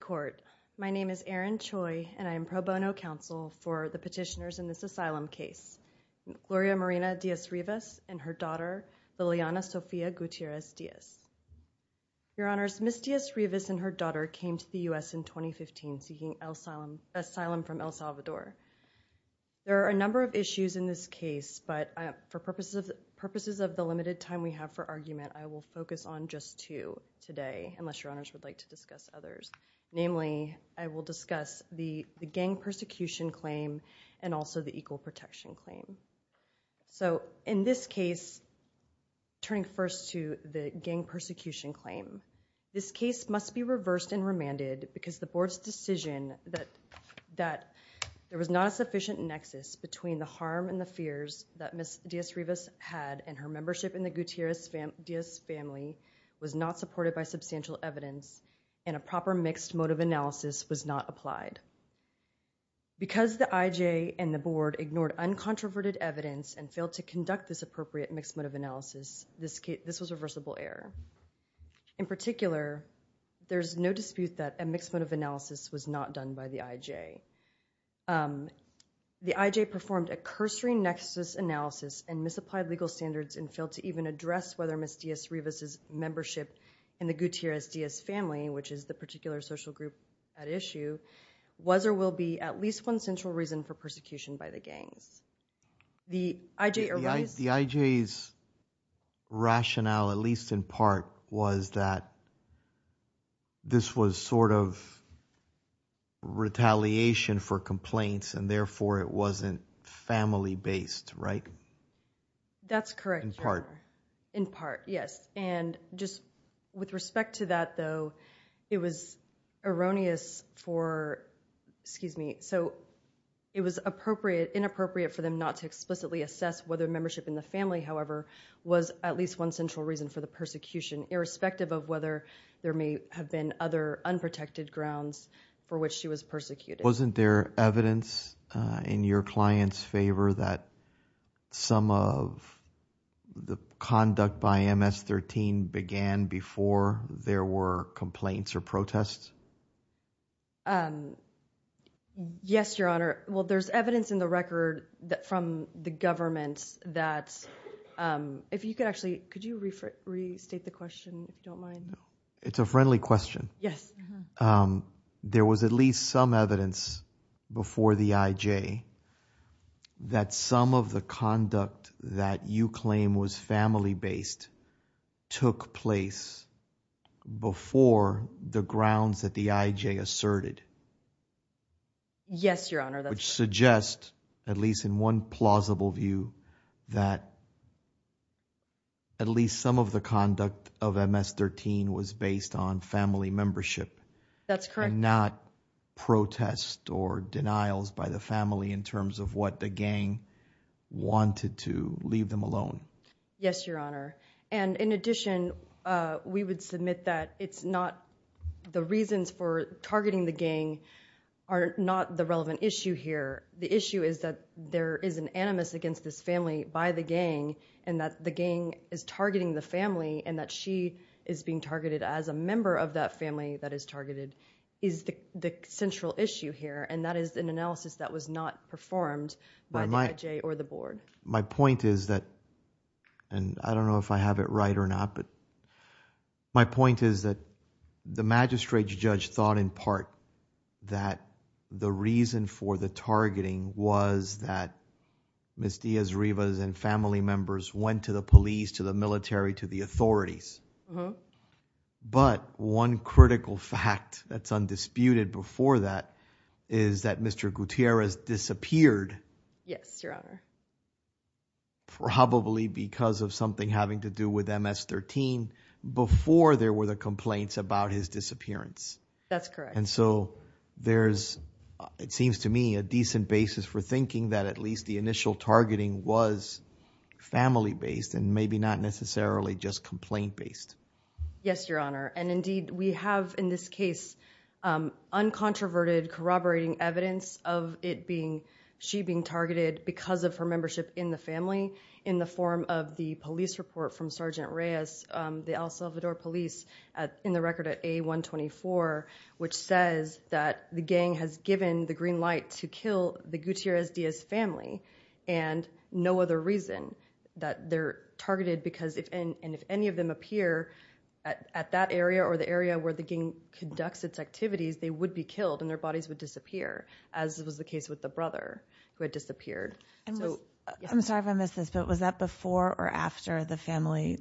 Court. My name is Erin Choi and I am pro bono counsel for the petitioners in this asylum case. Gloria Marina Diaz-Rivas and her daughter Liliana Sofia Gutierrez Diaz. Your Honors, Ms. Diaz-Rivas and her daughter came to the U.S. in 2015 seeking asylum from El Salvador. There are a number of issues in this case but for purposes of purposes of the limited time we have for argument I will focus on just two today unless your honors would like to discuss others. Namely I will discuss the gang persecution claim and also the equal protection claim. So in this case turning first to the gang persecution claim. This case must be reversed and remanded because the board's decision that that there was not a sufficient nexus between the harm and the fears that Ms. Diaz-Rivas had and her membership in the Gutierrez Diaz family was not supported by substantial evidence and a proper mixed motive analysis was not applied. Because the IJ and the board ignored uncontroverted evidence and failed to conduct this appropriate mixed motive analysis this case this was reversible error. In particular there's no dispute that a mixed motive analysis was not done by the IJ. The IJ performed a cursory nexus analysis and misapplied legal standards and failed to even address whether Ms. Diaz-Rivas' membership in the Gutierrez Diaz family which is the particular social group at issue was or will be at least one central reason for persecution by the gangs. The IJ rationale at least in part was that this was sort of retaliation for complaints and therefore it wasn't family-based right? That's correct. In part. In part yes and just with respect to that though it was erroneous for excuse me so it was appropriate inappropriate for them not to explicitly assess whether membership in the family however was at least one central reason for the persecution irrespective of whether there may have been other unprotected grounds for which she was persecuted. Wasn't there evidence in your clients favor that some of the conduct by MS-13 began before there were complaints or protests? Yes your honor well there's evidence in the record that from the government that if you could actually could you restate the question if you don't mind? It's a friendly question. Yes. There was at least some evidence before the IJ that some of the conduct that you claim was family-based took place before the grounds that the IJ asserted. Yes your honor. Which suggests at least in one plausible view that at least some of the conduct of MS-13 was based on family membership. That's correct. Not protest or denials by the family in terms of what the gang wanted to leave them alone. Yes your honor and in addition we would submit that it's not the reasons for targeting the gang are not the relevant issue here. The issue is that there is an animus against this family by the gang and that the gang is targeting the family and that she is being targeted as a member of that family that is targeted is the central issue here and that is an analysis that was not performed by the IJ or the board. My point is that and I don't know if I have it right or not but my point is that the magistrate's judge thought in part that the reason for the targeting was that Ms. Diaz-Rivas and family members went to the police to the military to the authorities. But one critical fact that's undisputed before that is that Mr. Gutierrez disappeared. Yes your honor. Probably because of something having to do with MS-13 before there were the complaints about his disappearance. That's correct. And so there's it seems to me a decent basis for thinking that at least the initial targeting was family-based and maybe not necessarily just complaint-based. Yes your honor and indeed we have in this case uncontroverted corroborating evidence of it being she being targeted because of her membership in the family in the form of the police report from Sergeant Reyes the El Salvador police in the record at a124 which says that the gang has given the green light to kill the Gutierrez Diaz family and no other reason that they're targeted because if and if any of them appear at that area or the area where the gang conducts its activities they would be killed and their bodies would disappear as was the case with the brother who had disappeared. I'm sorry if I missed this but was that before or after the family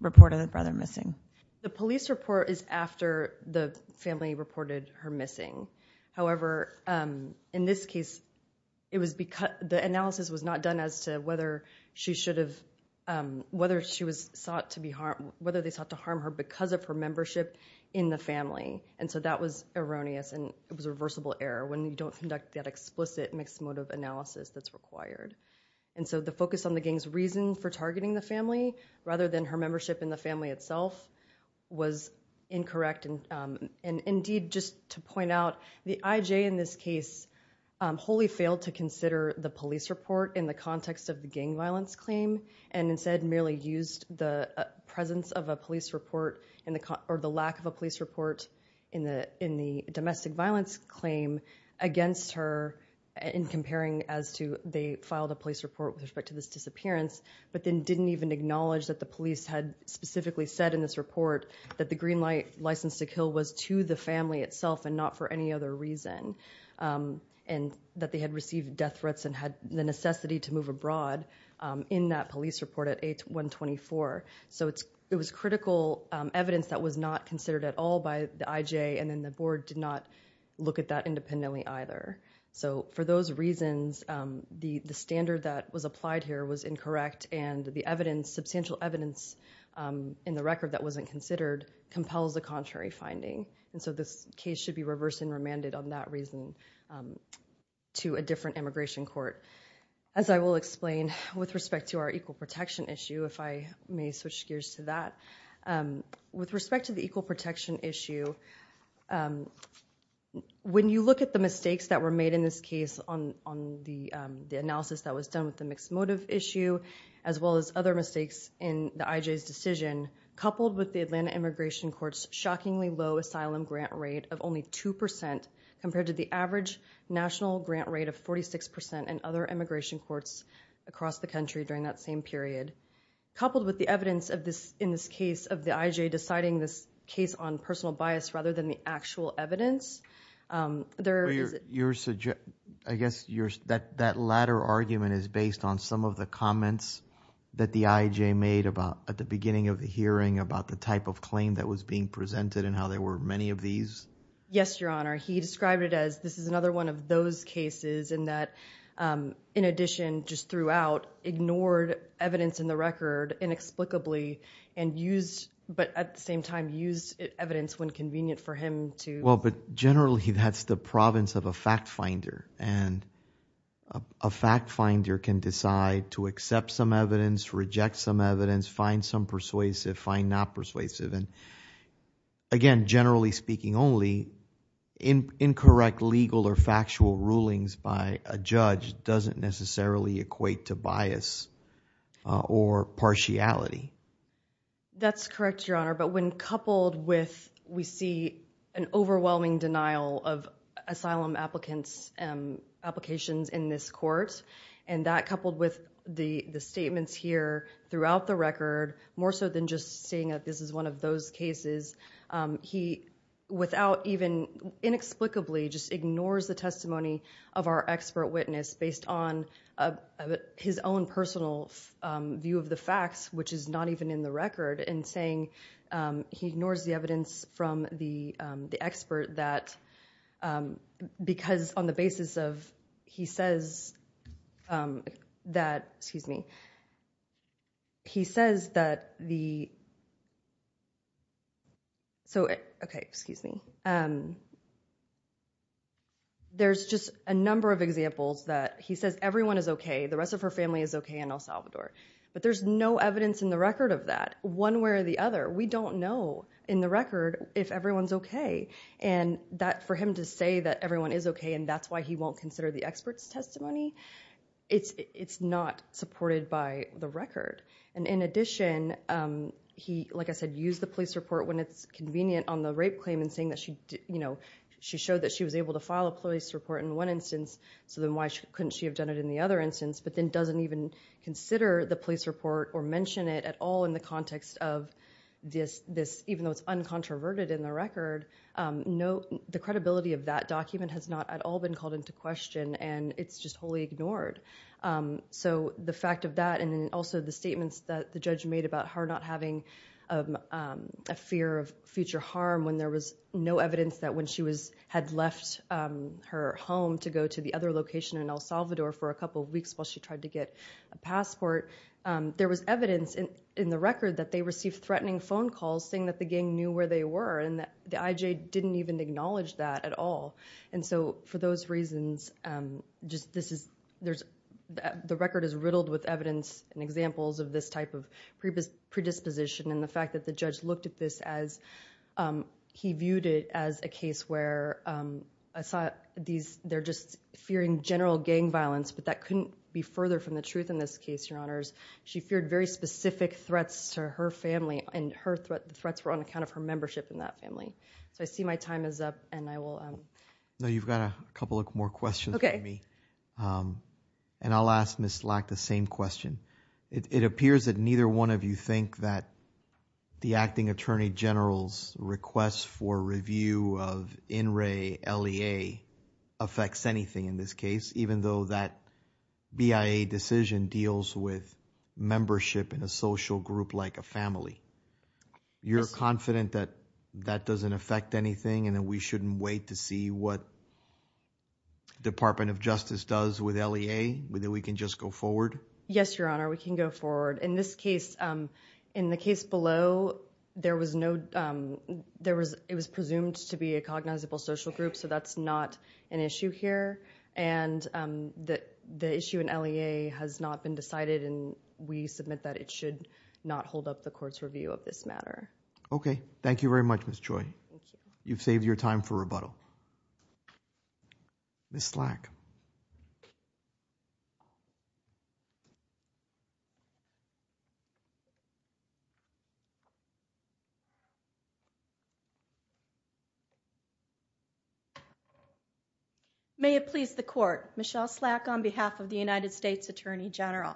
reported the brother missing? The police report is after the family reported her missing however in this case it was because the analysis was not done as to whether she should have whether she was sought to be harmed whether they sought to harm her because of her membership in the family and so that was erroneous and it was a reversible error when you don't conduct that explicit mixed motive analysis that's required and so the focus on the gang's reason for targeting the family rather than her membership in the family itself was incorrect and indeed just to point out the IJ in this case wholly failed to consider the police report in the context of the gang violence claim and instead merely used the presence of a police report in the or the lack of a police report in the domestic violence claim against her in comparing as to they filed a police report with respect to this disappearance but then didn't even acknowledge that the police had specifically said in this report that the green light license to kill was to the family itself and not for any other reason and that they had received death threats and had the necessity to move abroad in that police report at 8-124 so it's it was critical evidence that was not considered at all by the IJ and then the board did not look at that independently either so for those reasons the the standard that was applied here was incorrect and the evidence substantial evidence in the record that wasn't considered compels the contrary finding and so this case should be reversed and remanded on that reason to a different immigration court as I will explain with respect to our equal protection issue if I may switch gears to that with respect to the equal protection issue when you look at the mistakes that were made in this case on on the analysis that was done with the mixed motive issue as well as other mistakes in the IJ's decision coupled with the Atlanta immigration courts shockingly low asylum grant rate of only 2% compared to the average national grant rate of 46% and other immigration courts across the country during that same period coupled with the evidence of this in this case of the IJ deciding this case on personal bias rather than the actual evidence there you're suggest I guess you're that that latter argument is based on some of the comments that the IJ made about at the beginning of the hearing about the type of claim that was being presented and how there were many of these yes your honor he described it as this is another one of those cases in that in addition just throughout ignored evidence in the state and used but at the same time used evidence when convenient for him to well but generally that's the province of a fact finder and a fact finder can decide to accept some evidence reject some evidence find some persuasive find not persuasive and again generally speaking only in incorrect legal or that's correct your honor but when coupled with we see an overwhelming denial of asylum applicants and applications in this court and that coupled with the the statements here throughout the record more so than just saying that this is one of those cases he without even inexplicably just ignores the testimony of our expert witness based on his own personal view of the record and saying he ignores the evidence from the expert that because on the basis of he says that excuse me he says that the so it okay excuse me and there's just a number of examples that he says everyone is okay the rest of her family is okay in El Salvador but there's no evidence in the record of that one way or the other we don't know in the record if everyone's okay and that for him to say that everyone is okay and that's why he won't consider the experts testimony it's it's not supported by the record and in addition he like I said use the police report when it's convenient on the rape claim and saying that she you know she showed that she was able to file a police report in one instance so then why couldn't she have done it in the other instance but then doesn't even consider the police report or mention it at all in the context of this this even though it's uncontroverted in the record no the credibility of that document has not at all been called into question and it's just wholly ignored so the fact of that and then also the statements that the judge made about her not having a fear of future harm when there was no evidence that when she was had left her home to go to the other location in El Salvador for a couple of weeks while she tried to get a passport there was evidence in in the record that they received threatening phone calls saying that the gang knew where they were and that the IJ didn't even acknowledge that at all and so for those reasons just this is there's the record is riddled with evidence and examples of this type of previous predisposition and the fact that the judge looked at this as he viewed it as a case where I saw these they're just fearing general gang violence but that couldn't be further from the truth in this case your honors she feared very specific threats to her family and her threat threats were on account of her membership in that family so I see my time is up and I will know you've got a couple of more questions okay me and I'll ask miss lack the same question it appears that neither one of you think that the acting attorney general's requests for review of in Ray LEA affects anything in this case even though that BIA decision deals with membership in a social group like a family you're confident that that doesn't affect anything and that we shouldn't wait to see what Department of Justice does with LEA whether we can just go forward yes your honor we can go forward in this case in the case below there was no there was it was presumed to be a cognizable social group so that's not an issue here and that the issue in LEA has not been decided and we submit that it should not hold up the court's review of this matter okay thank you very much miss joy you've saved your time for rebuttal miss slack you may have pleased the court Michelle slack on behalf of the United States Attorney General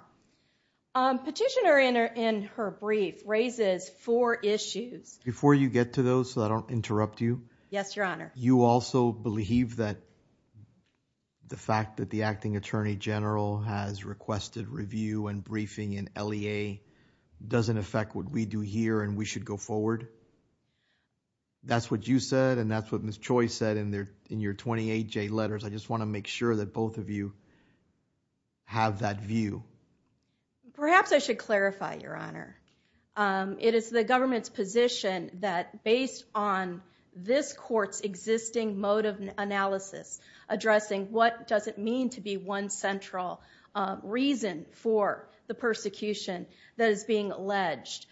petitioner in her in her brief raises four issues before you get to those so I don't interrupt you yes your honor you also believe that the fact that the acting attorney general has requested review and briefing in LEA doesn't affect what we do here and we should go forward that's what you said and that's what miss choice said in there in your 28 J letters I just want to make sure that both of you have that view perhaps I should clarify your honor it is the government's position that based on this courts existing mode of analysis addressing what does it mean to be one central reason for the being alleged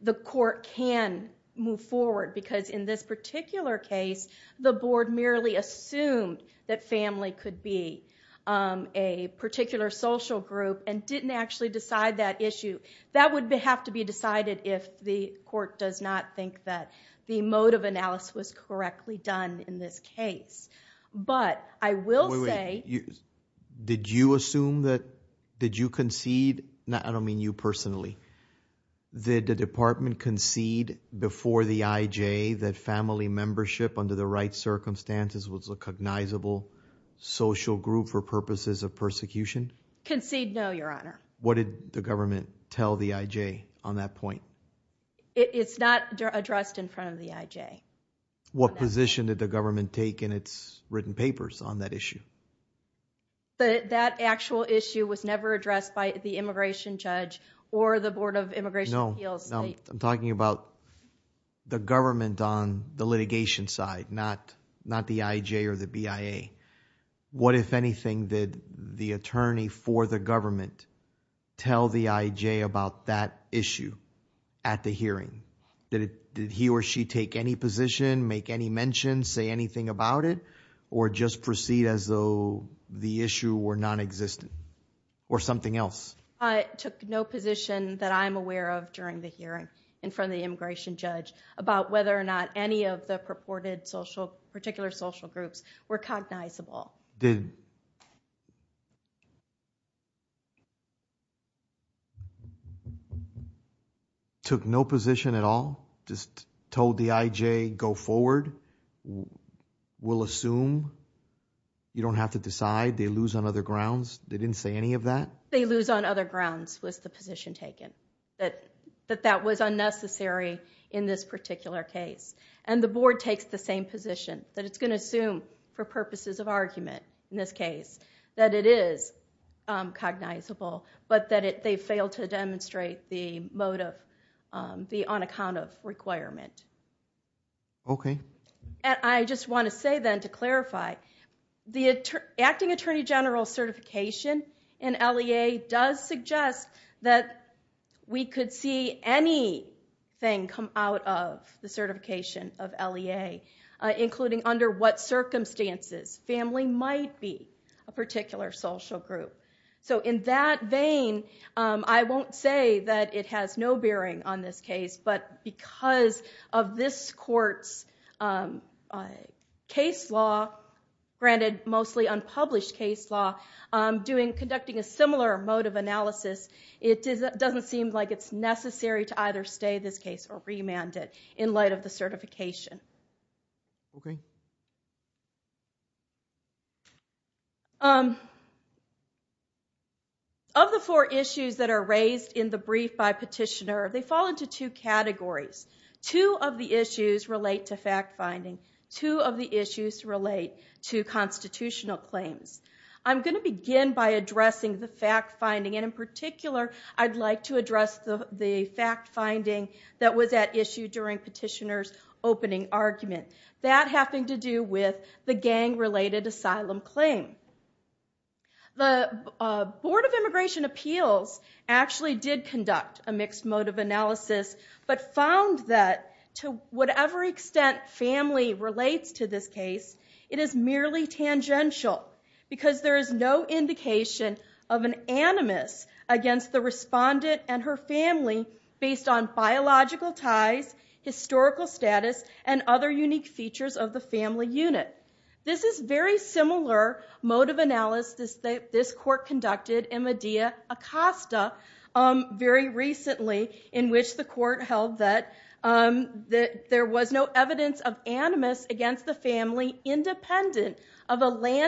the court can move forward because in this particular case the board merely assumed that family could be a particular social group and didn't actually decide that issue that would have to be decided if the court does not think that the mode of analysis was correctly done in this case but I will say you did you assume that did you concede that I don't mean you personally did the department concede before the IJ that family membership under the right circumstances was a cognizable social group for purposes of persecution concede no your honor what did the government tell the IJ on that point it's not addressed in front of the IJ what position that the government take in its written papers on that issue but that actual issue was never addressed by the immigration judge or the Board of Immigration appeals I'm talking about the government on the litigation side not not the IJ or the BIA what if anything did the attorney for the government tell the IJ about that issue at the hearing that it did he or she take any position make any mention say anything about it or just proceed as though the issue were non-existent or something else I took no position that I'm aware of during the hearing in front of the immigration judge about whether or not any of the purported social particular social groups were cognizable did you took no position at all just told the IJ go forward we'll assume you don't have to decide they lose on other grounds they didn't say any of that they lose on other grounds was the position taken that that that was unnecessary in this particular case and the board takes the same position that it's going to that it is cognizable but that it they failed to demonstrate the motive the on account of requirement okay and I just want to say then to clarify the acting attorney general certification in LEA does suggest that we could see any thing come out of the certification of LEA including under what circumstances family might be a particular social group so in that vein I won't say that it has no bearing on this case but because of this courts case law granted mostly unpublished case law doing conducting a similar mode of analysis it doesn't seem like it's necessary to either stay this case or remanded in the certification of the four issues that are raised in the brief by petitioner they fall into two categories two of the issues relate to fact-finding two of the issues relate to constitutional claims I'm going to begin by addressing the fact-finding and in particular I'd like to address the fact-finding that was at issue during petitioners opening argument that happened to do with the gang related asylum claim the Board of Immigration Appeals actually did conduct a mixed mode of analysis but found that to whatever extent family relates to this case it is merely tangential because there is no indication of an animus against the respondent and her family based on biological ties historical status and other unique features of the family unit this is very similar mode of analysis that this court conducted in Madea Acosta very recently in which the court held that that there was no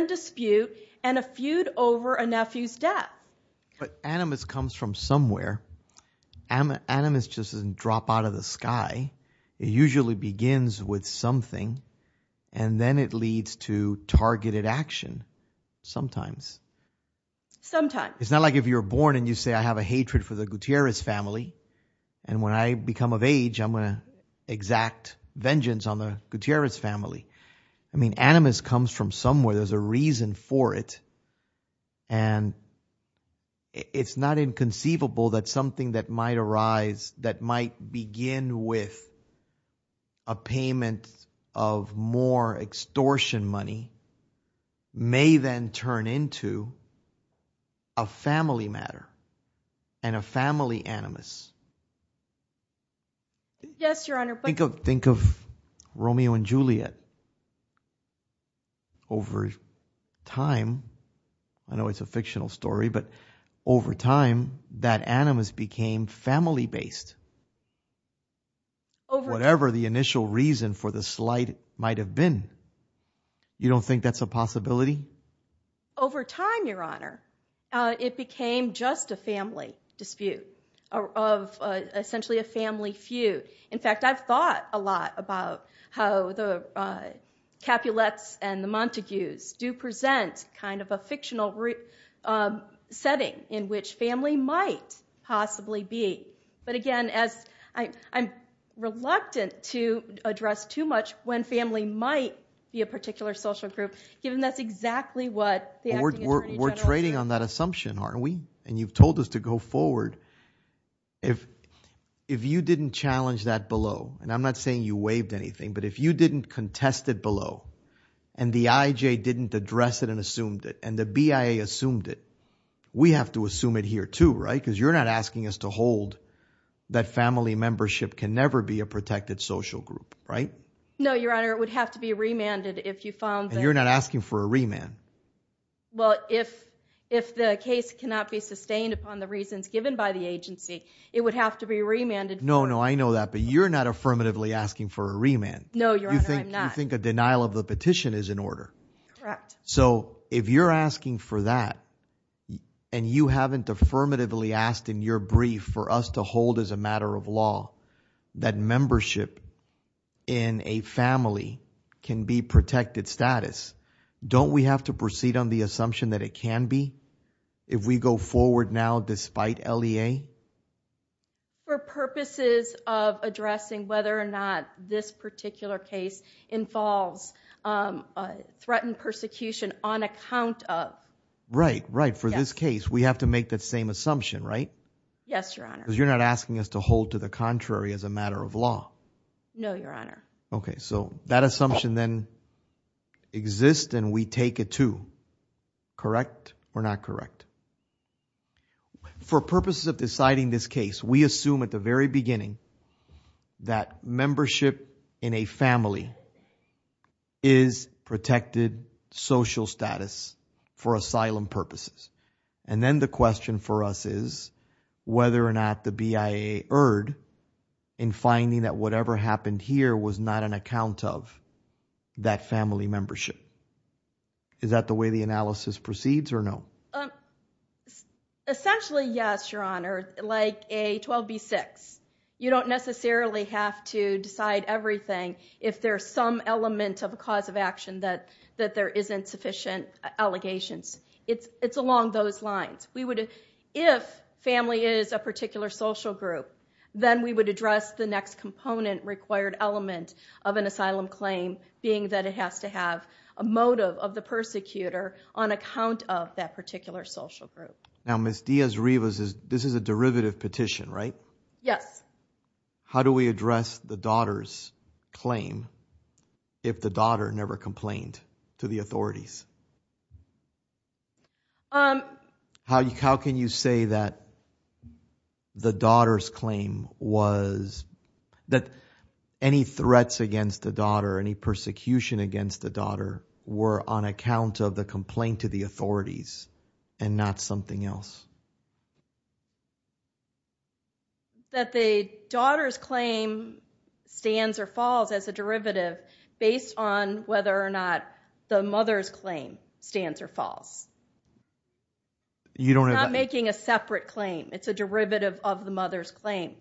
dispute and a feud over a nephew's death but animus comes from somewhere animus just doesn't drop out of the sky it usually begins with something and then it leads to targeted action sometimes sometimes it's not like if you're born and you say I have a hatred for the Gutierrez family and when I become of age I'm gonna exact vengeance on the Gutierrez family I mean animus comes from somewhere there's a reason for it and it's not inconceivable that something that might arise that might begin with a payment of more extortion money may then turn into a family matter and a family animus yes your honor think of Romeo and Juliet over time I know it's a fictional story but over time that animus became family-based over whatever the initial reason for the slight might have been you don't think that's a possibility over time your honor it became just a family dispute of essentially a family feud in fact I've thought a lot about how the Capulets and the Montagues do present kind of a fictional setting in which family might possibly be but again as I I'm reluctant to address too much when family might be a particular social group given that's exactly what we're trading on that assumption aren't we and you've told us to go forward if if you didn't challenge that below and I'm not saying you waived anything but if you didn't contest it below and the IJ didn't address it and assumed it and the BIA assumed it we have to assume it here too right because you're not asking us to hold that family membership can never be a protected social group right no your honor would have to be remanded if you found you're not asking for a remand well if if the case cannot be sustained upon the reasons given by the agency it would have to be remanded no no I know that but you're not affirmatively asking for a remand no you think I think a denial of the petition is in order so if you're asking for that and you haven't affirmatively asked in your brief for us to hold as a matter of law that membership in a family can be protected status don't we have to proceed on the despite LEA for purposes of addressing whether or not this particular case involves threatened persecution on account of right right for this case we have to make that same assumption right yes your honor you're not asking us to hold to the contrary as a matter of law no your honor okay so that assumption then exist and we take it to correct or not correct for purposes of deciding this case we assume at the very beginning that membership in a family is protected social status for asylum purposes and then the question for us is whether or not the BIA erred in finding that whatever happened here was not an account of that family membership is that the way the analysis proceeds or no essentially yes your honor like a 12b6 you don't necessarily have to decide everything if there's some element of a cause of action that that there isn't sufficient allegations it's it's along those lines we would if family is a particular social group then we would address the next component required element of an asylum claim being that it has to have a motive of the persecutor on account of that particular social group now miss Diaz Rivas is this is a derivative petition right yes how do we address the daughter's claim if the daughter never complained to the authorities how you can you say that the daughter's claim was that any threats against the daughter any persecution against the daughter were on account of the complaint to the authorities and not something else that the daughter's claim stands or falls as a derivative based on whether or not the mother's claim stands or falls you don't know making a separate claim it's a derivative of the mother's claim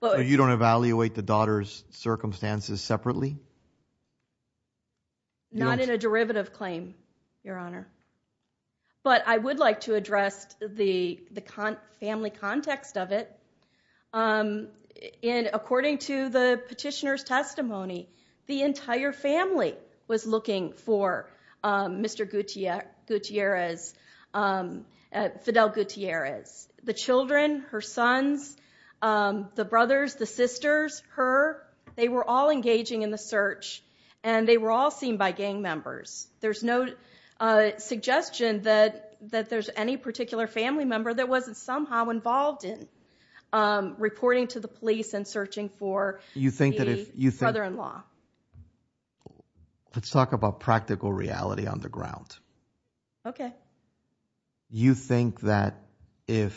but you don't evaluate the daughter's circumstances separately not in a derivative claim your honor but I would like to address the the con family context of it in according to the petitioner's testimony the entire family was looking for mr. Gutierrez Fidel Gutierrez the children her sons the brothers the sisters her they were all engaging in the search and they were all seen by gang members there's no suggestion that that there's any particular family member that wasn't somehow involved in reporting to the let's talk about practical reality on the ground okay you think that if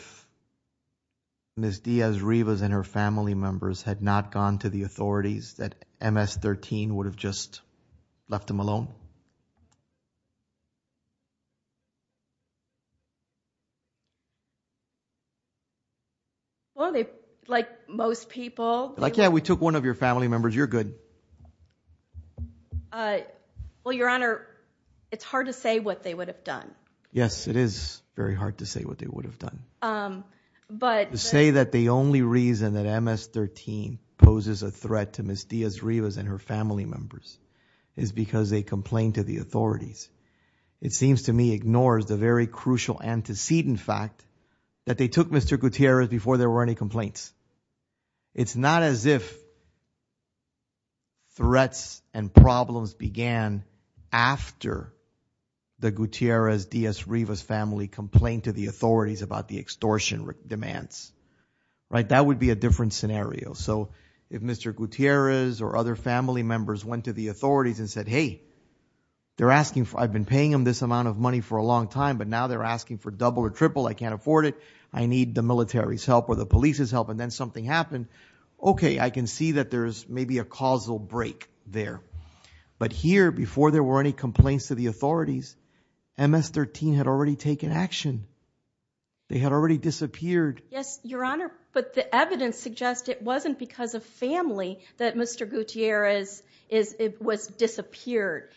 miss Diaz Rivas and her family members had not gone to the authorities that ms-13 would have just left him alone well they like most people like yeah we took one of your family members you're good well your honor it's hard to say what they would have done yes it is very hard to say what they would have done but say that the only reason that ms-13 poses a threat to miss Diaz Rivas and her family members is because they complained to the authorities it seems to me ignores the very crucial antecedent fact that they took mr. Gutierrez before there were any complaints it's not as if threats and problems began after the Gutierrez Diaz Rivas family complained to the authorities about the extortion demands right that would be a different scenario so if mr. Gutierrez or other family members went to the authorities and said hey they're asking for I've been paying him this amount of money for a long time but now they're asking for double or triple I can't afford it I need the military's help or the police's help and then something happened okay I can see that there's maybe a causal break there but here before there were any complaints to the authorities ms-13 had already taken action they had already disappeared yes your honor but the evidence suggests it wasn't because of family that mr. Gutierrez is it was disappeared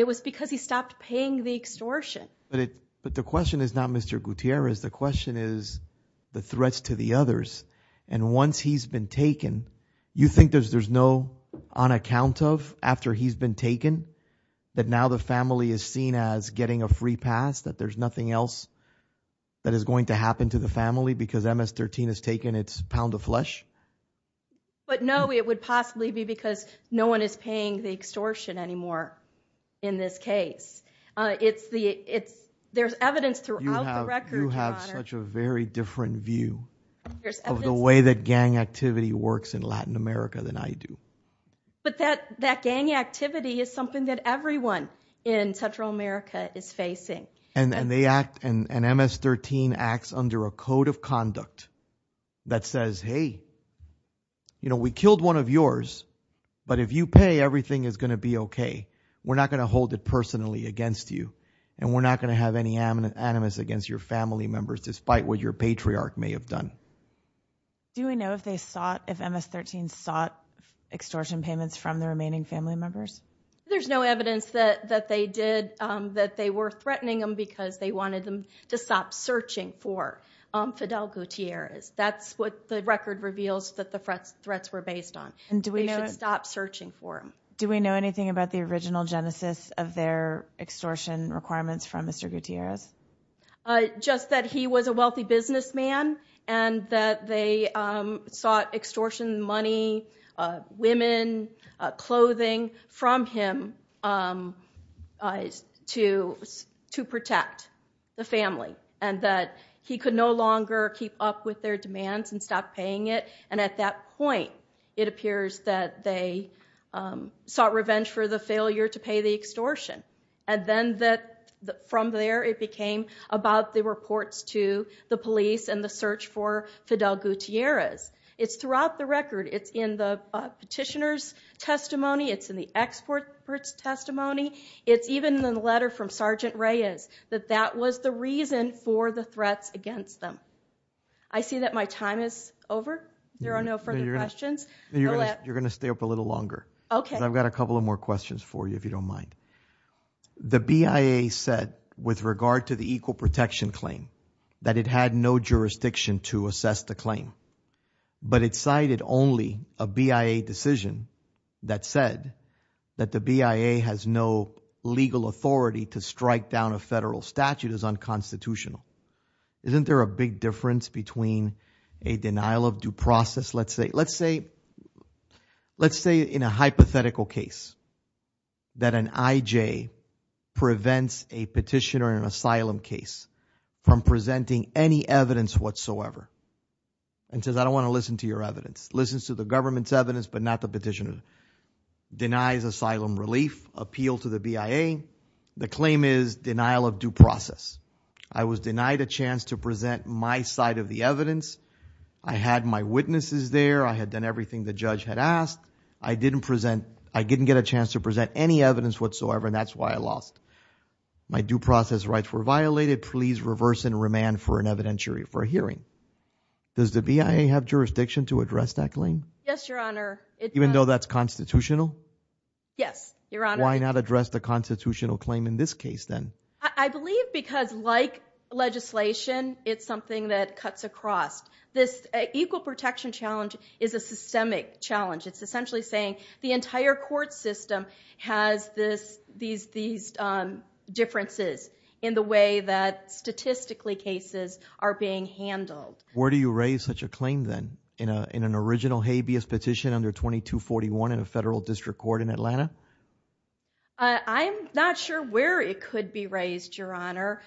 it was because he stopped paying the extortion but it but the question is not mr. Gutierrez the question is the threats to the others and once he's been taken you think there's there's no on account of after he's been taken that now the family is seen as getting a free pass that there's nothing else that is going to happen to the family because ms-13 has taken its pound of flesh but no it would possibly be because no one is paying the extortion anymore in this case it's the it's there's evidence throughout you have such a very different view of the way that gang activity works in Latin America than I do but that that gang activity is something that everyone in Central America is facing and then they act and ms-13 acts under a code of conduct that says hey you know we killed one of yours but if you pay everything is going to be okay we're not going to have any animus against your family members despite what your patriarch may have done do we know if they sought if ms-13 sought extortion payments from the remaining family members there's no evidence that that they did that they were threatening them because they wanted them to stop searching for Fidel Gutierrez that's what the record reveals that the threats were based on and do we know stop searching for him do we know anything about the original genesis of their extortion requirements from mr. Gutierrez just that he was a wealthy businessman and that they sought extortion money women clothing from him to to protect the family and that he could no longer keep up with their demands and stop paying it and at that point it appears that they sought and then that from there it became about the reports to the police and the search for Fidel Gutierrez it's throughout the record it's in the petitioners testimony it's in the experts testimony it's even in the letter from sergeant Reyes that that was the reason for the threats against them I see that my time is over there are no further questions you're gonna stay up a little longer okay I've got a couple of more questions for you if you don't mind the BIA said with regard to the equal protection claim that it had no jurisdiction to assess the claim but it cited only a BIA decision that said that the BIA has no legal authority to strike down a federal statute is unconstitutional isn't there a big difference between a denial of due process let's say let's say let's say in a hypothetical case that an IJ prevents a petitioner in an asylum case from presenting any evidence whatsoever and says I don't want to listen to your evidence listens to the government's evidence but not the petitioner denies asylum relief appeal to the BIA the claim is denial of due process I was denied a chance to present my side of the evidence I had my witnesses there I had done everything the judge had asked I didn't present I didn't get a chance to present any evidence whatsoever and that's why I lost my due process rights were violated please reverse and remand for an evidentiary for a hearing does the BIA have jurisdiction to address that claim yes your honor even though that's constitutional yes your honor why not address the constitutional claim in this case then I believe because like legislation it's something that cuts across this equal protection challenge is a systemic challenge it's essentially saying the entire court system has this these these differences in the way that statistically cases are being handled where do you raise such a claim then in a in an original habeas petition under 2241 in a federal district court in Atlanta I'm not sure where it could be your honor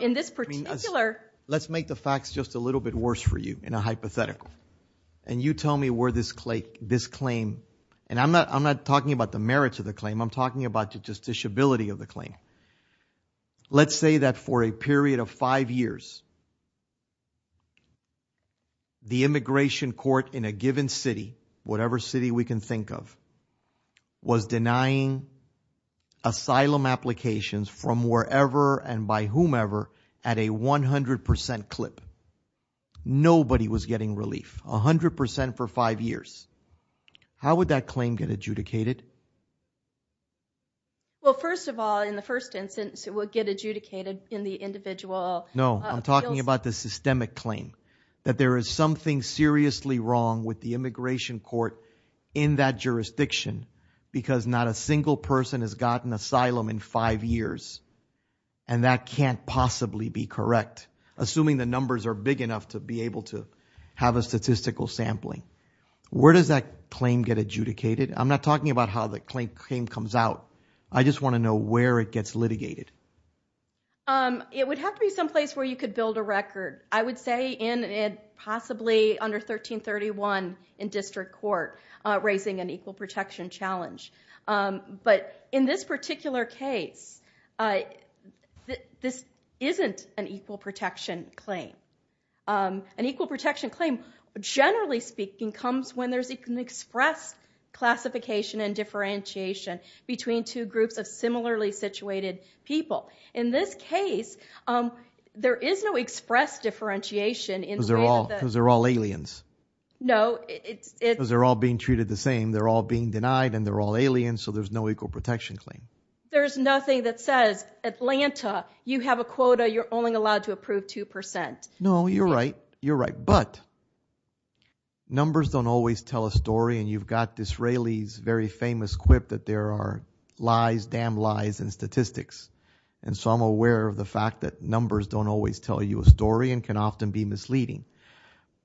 in this particular let's make the facts just a little bit worse for you in a hypothetical and you tell me where this clay this claim and I'm not I'm not talking about the merits of the claim I'm talking about the justiciability of the claim let's say that for a period of five years the immigration court in a given city whatever city we can think of was denying asylum applications from wherever and by whomever at a 100% clip nobody was getting relief a hundred percent for five years how would that claim get adjudicated well first of all in the first instance it would get adjudicated in the individual no I'm talking about the systemic claim that there is something seriously wrong with the immigration court in that jurisdiction because not a single person has gotten asylum in five years and that can't possibly be correct assuming the numbers are big enough to be able to have a statistical sampling where does that claim get adjudicated I'm not talking about how the claim came comes out I just want to know where it gets litigated it would have to be someplace where you could build a record I would say in it possibly under 1331 in district court raising an equal protection challenge but in this particular case this isn't an equal protection claim an equal protection claim generally speaking comes when there's an express classification and differentiation between two groups of similarly situated people in this case there is no express differentiation in those are all those are all aliens no it was they're all being treated the same they're all being denied and they're all aliens so there's no equal protection claim there's nothing that says Atlanta you have a quota you're only allowed to approve 2% no you're right you're right but numbers don't always tell a story and you've got this Rayleigh's very famous quip that there are lies damn lies and statistics and so I'm aware of the fact that numbers don't always tell you a story and can often be misleading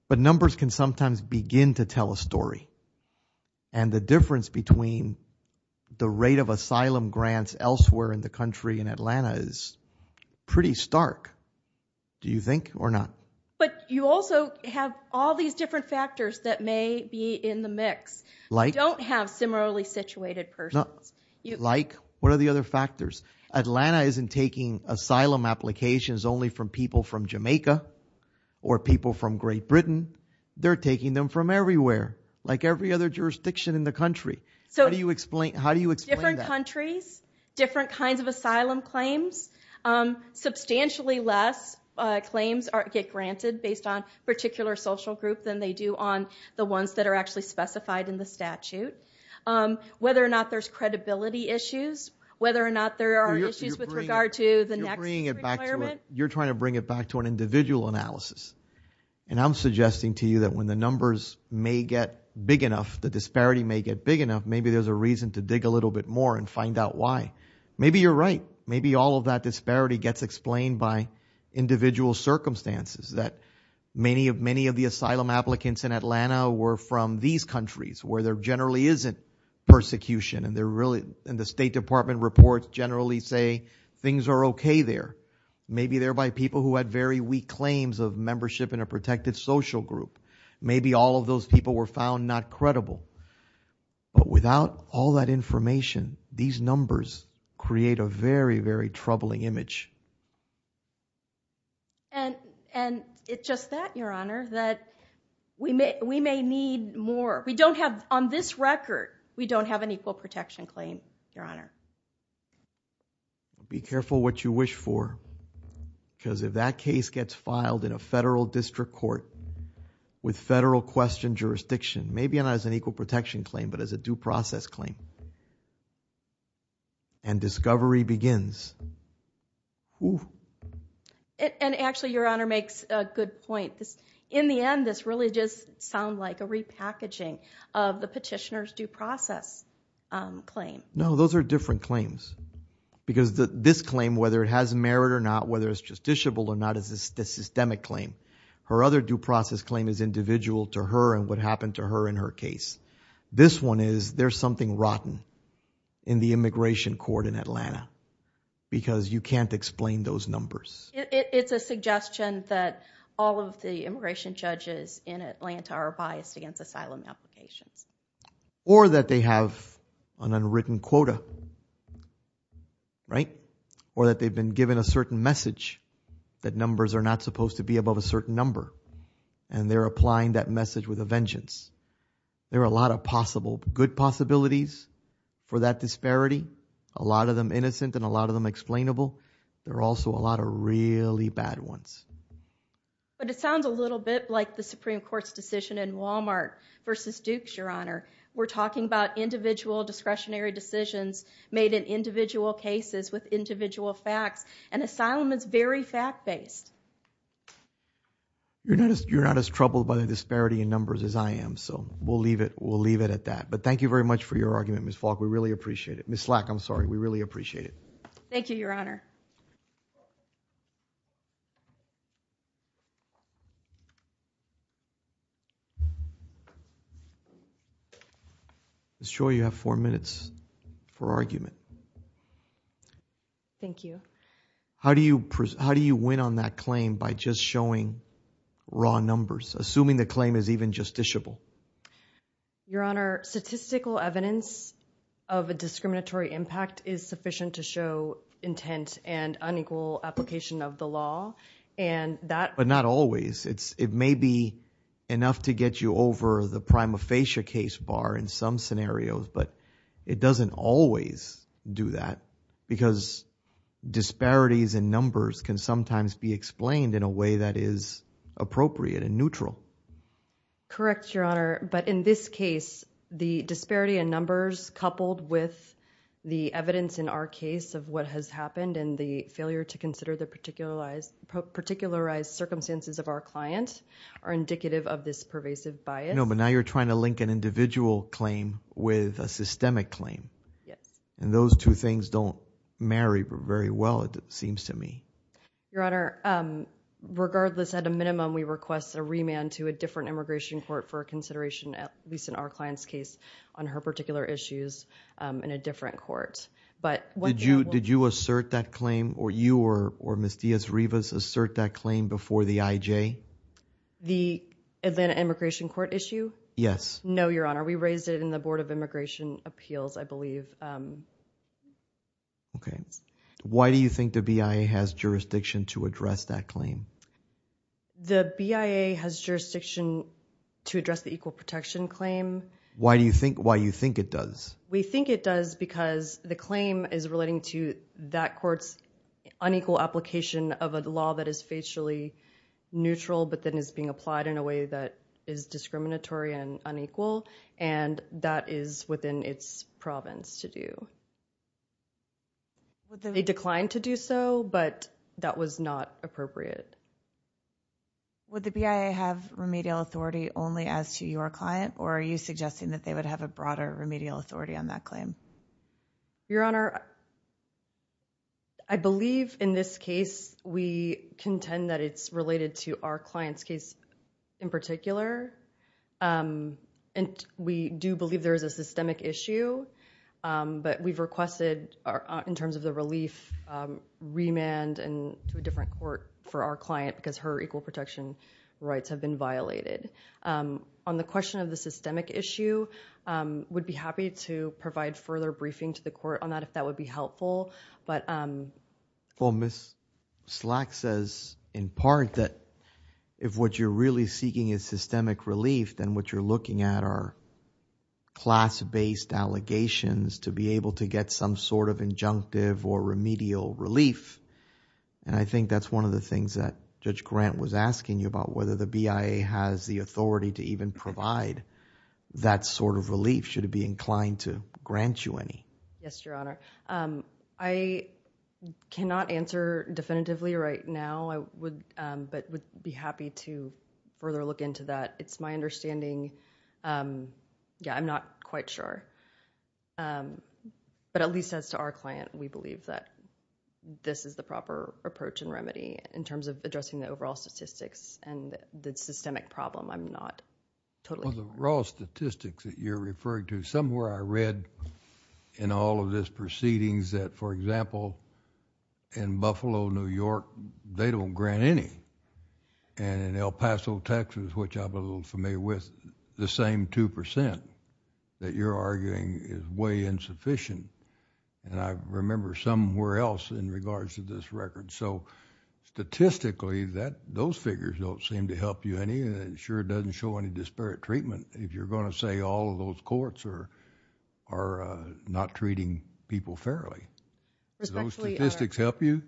but numbers can sometimes begin to tell a story and the difference between the rate of asylum grants elsewhere in the country in Atlanta is pretty stark do you think or not but you also have all these different factors that may be in the mix like don't have similarly situated person like what are the other factors Atlanta isn't taking asylum applications only from people from Jamaica or people from Great Britain they're taking them from everywhere like every other jurisdiction in the country so do you explain how do you explain different countries different kinds of asylum claims substantially less claims aren't get granted based on particular social group than they do on the ones that are actually specified in the statute whether or not there's credibility issues whether or not there are issues with regard to the next you're trying to bring it back to an individual analysis and I'm suggesting to you that when the numbers may get big enough the disparity may get big enough maybe there's a reason to dig a little bit more and find out why maybe you're right maybe all of that disparity gets explained by individual circumstances that many of many of the asylum applicants in Atlanta were from these countries where there generally isn't persecution and they're really in the State Department reports generally say things are okay there maybe they're by people who had very weak claims of membership in a protected social group maybe all of those people were found not credible but without all that information these numbers create a very very troubling image and and it just that your honor that we may we may need more we don't have on this record we don't have an equal protection claim your honor be careful what you wish for because if that case gets filed in a federal district court with federal question jurisdiction maybe not as an equal protection claim but as a due process claim and discovery begins and actually your honor makes a good point this in the end this really just sound like a repackaging of the petitioners due process claim no those are different claims because the this claim whether it has merit or not whether it's justiciable or not as a systemic claim her other due process claim is individual to her and what happened to her in her case this one is there's something rotten in the immigration court in Atlanta because you can't explain those numbers it's a suggestion that all of the immigration judges in or that they have an unwritten quota right or that they've been given a certain message that numbers are not supposed to be above a certain number and they're applying that message with a vengeance there are a lot of possible good possibilities for that disparity a lot of them innocent and a lot of them explainable there are also a lot of really bad ones but it sounds a little bit like the Supreme Court's decision in Walmart versus Dukes your honor we're talking about individual discretionary decisions made in individual cases with individual facts and asylum is very fact-based you're not as you're not as troubled by the disparity in numbers as I am so we'll leave it we'll leave it at that but thank you very much for your argument miss Falk we really appreciate it miss slack I'm sorry we really appreciate it thank you your honor I'm sure you have four minutes for argument thank you how do you how do you win on that claim by just showing raw numbers assuming the claim is even justiciable your honor statistical evidence of a discriminatory impact is sufficient to show intent and unequal application of the law and that but not always it's it may be enough to get you over the prima facie case bar in some scenarios but it doesn't always do that because disparities and numbers can sometimes be explained in a way that is appropriate and neutral correct your honor but in this case the disparity in numbers coupled with the evidence in our case of what has happened and the failure to consider the particular eyes circumstances of our client are indicative of this pervasive by it no but now you're trying to link an individual claim with a systemic claim yes and those two things don't marry very well it seems to me your honor regardless at a minimum we request a remand to a different immigration court for a consideration at least in our clients case on her particular issues in a different court but what did you did you assert that claim or you or or miss Diaz-Rivas assert that claim before the IJ the Atlanta immigration court issue yes no your honor we raised it in the Board of Immigration Appeals I believe okay why do you think the BIA has jurisdiction to address that claim the BIA has jurisdiction to address the equal protection claim why do you think why you think it does we think it does because the claim is relating to that courts unequal application of a law that is facially neutral but then is being applied in a way that is discriminatory and unequal and that is within its province to do they declined to do so but that was not appropriate would the BIA have remedial authority only as to your client or are you suggesting that they would have a broader remedial authority on that claim your honor I believe in this case we contend that it's related to our clients case in particular and we do believe there is a systemic issue but we've requested our in terms of the relief remand and to a different court for our client because her equal protection rights have been violated on the briefing to the court on that if that would be helpful but well miss slack says in part that if what you're really seeking is systemic relief then what you're looking at our class-based allegations to be able to get some sort of injunctive or remedial relief and I think that's one of the things that judge grant was asking you about whether the BIA has the authority to even provide that sort of relief should it be inclined to grant you any yes your honor I cannot answer definitively right now I would but would be happy to further look into that it's my understanding yeah I'm not quite sure but at least as to our client we believe that this is the proper approach and remedy in terms of raw statistics that you're referring to somewhere I read in all of this proceedings that for example in Buffalo New York they don't grant any and in El Paso Texas which I'm a little familiar with the same 2% that you're arguing is way insufficient and I remember somewhere else in regards to this record so statistically that those figures don't seem to help you any and sure doesn't show any disparate treatment if you're going to say all of those courts are are not treating people fairly those statistics help you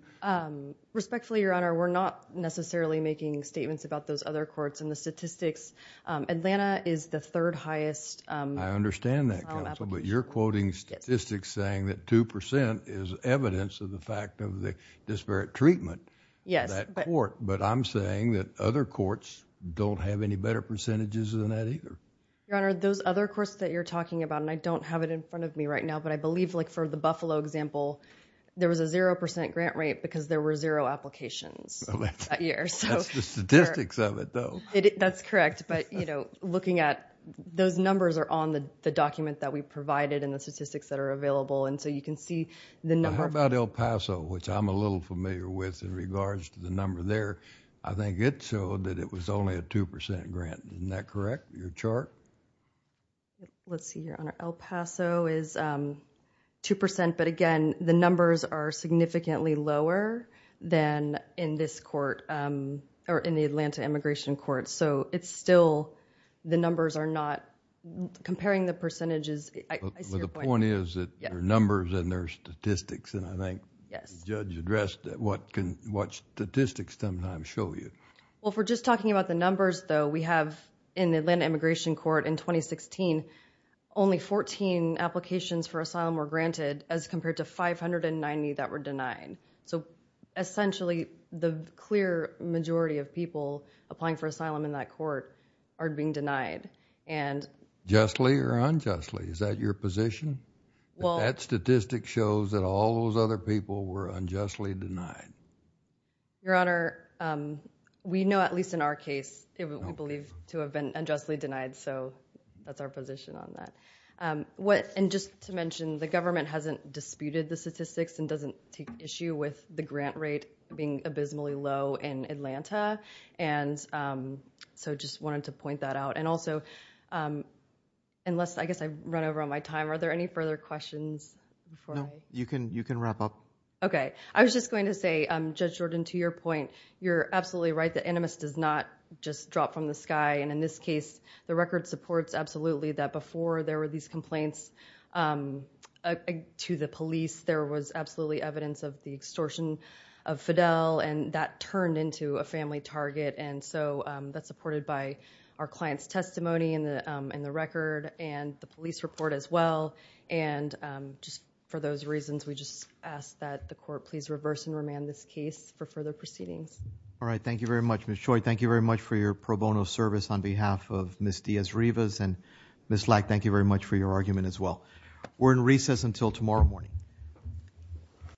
respectfully your honor we're not necessarily making statements about those other courts and the statistics Atlanta is the third highest I understand that but you're quoting statistics saying that 2% is evidence of the fact of the disparate treatment yes but work but I'm saying that other courts don't have any better percentages than that either your honor those other course that you're talking about and I don't have it in front of me right now but I believe like for the Buffalo example there was a zero percent grant rate because there were zero applications that's correct but you know looking at those numbers are on the document that we provided and the statistics that are available and so you can see the number about El Paso which I'm a little familiar with in I think it showed that it was only a 2% grant isn't that correct your chart let's see your honor El Paso is 2% but again the numbers are significantly lower than in this court or in the Atlanta immigration court so it's still the numbers are not comparing the percentages the point is that there are numbers and there's statistics and I think yes judge addressed that what can what statistics sometimes show you well if we're just talking about the numbers though we have in the Atlanta immigration court in 2016 only 14 applications for asylum were granted as compared to 590 that were denied so essentially the clear majority of people applying for asylum in that court are being denied and justly or unjustly is that your position well that statistic shows that all those other people were unjustly denied your honor we know at least in our case we believe to have been unjustly denied so that's our position on that what and just to mention the government hasn't disputed the statistics and doesn't take issue with the grant rate being abysmally low in Atlanta and so just wanted to point that out and also unless I guess I've run over on my time are there any further questions you can you can wrap up okay I was just going to say I'm judge Jordan to your point you're absolutely right the animus does not just drop from the sky and in this case the record supports absolutely that before there were these complaints to the police there was absolutely evidence of the extortion of Fidel and that turned into a family target and so that's supported by our clients testimony in the in the record and the police report as well and just for those reasons we just ask that the court please reverse and remand this case for further proceedings all right thank you very much miss Choi thank you very much for your pro bono service on behalf of miss Diaz Rivas and miss like thank you very much for your argument as well we're in recess until tomorrow morning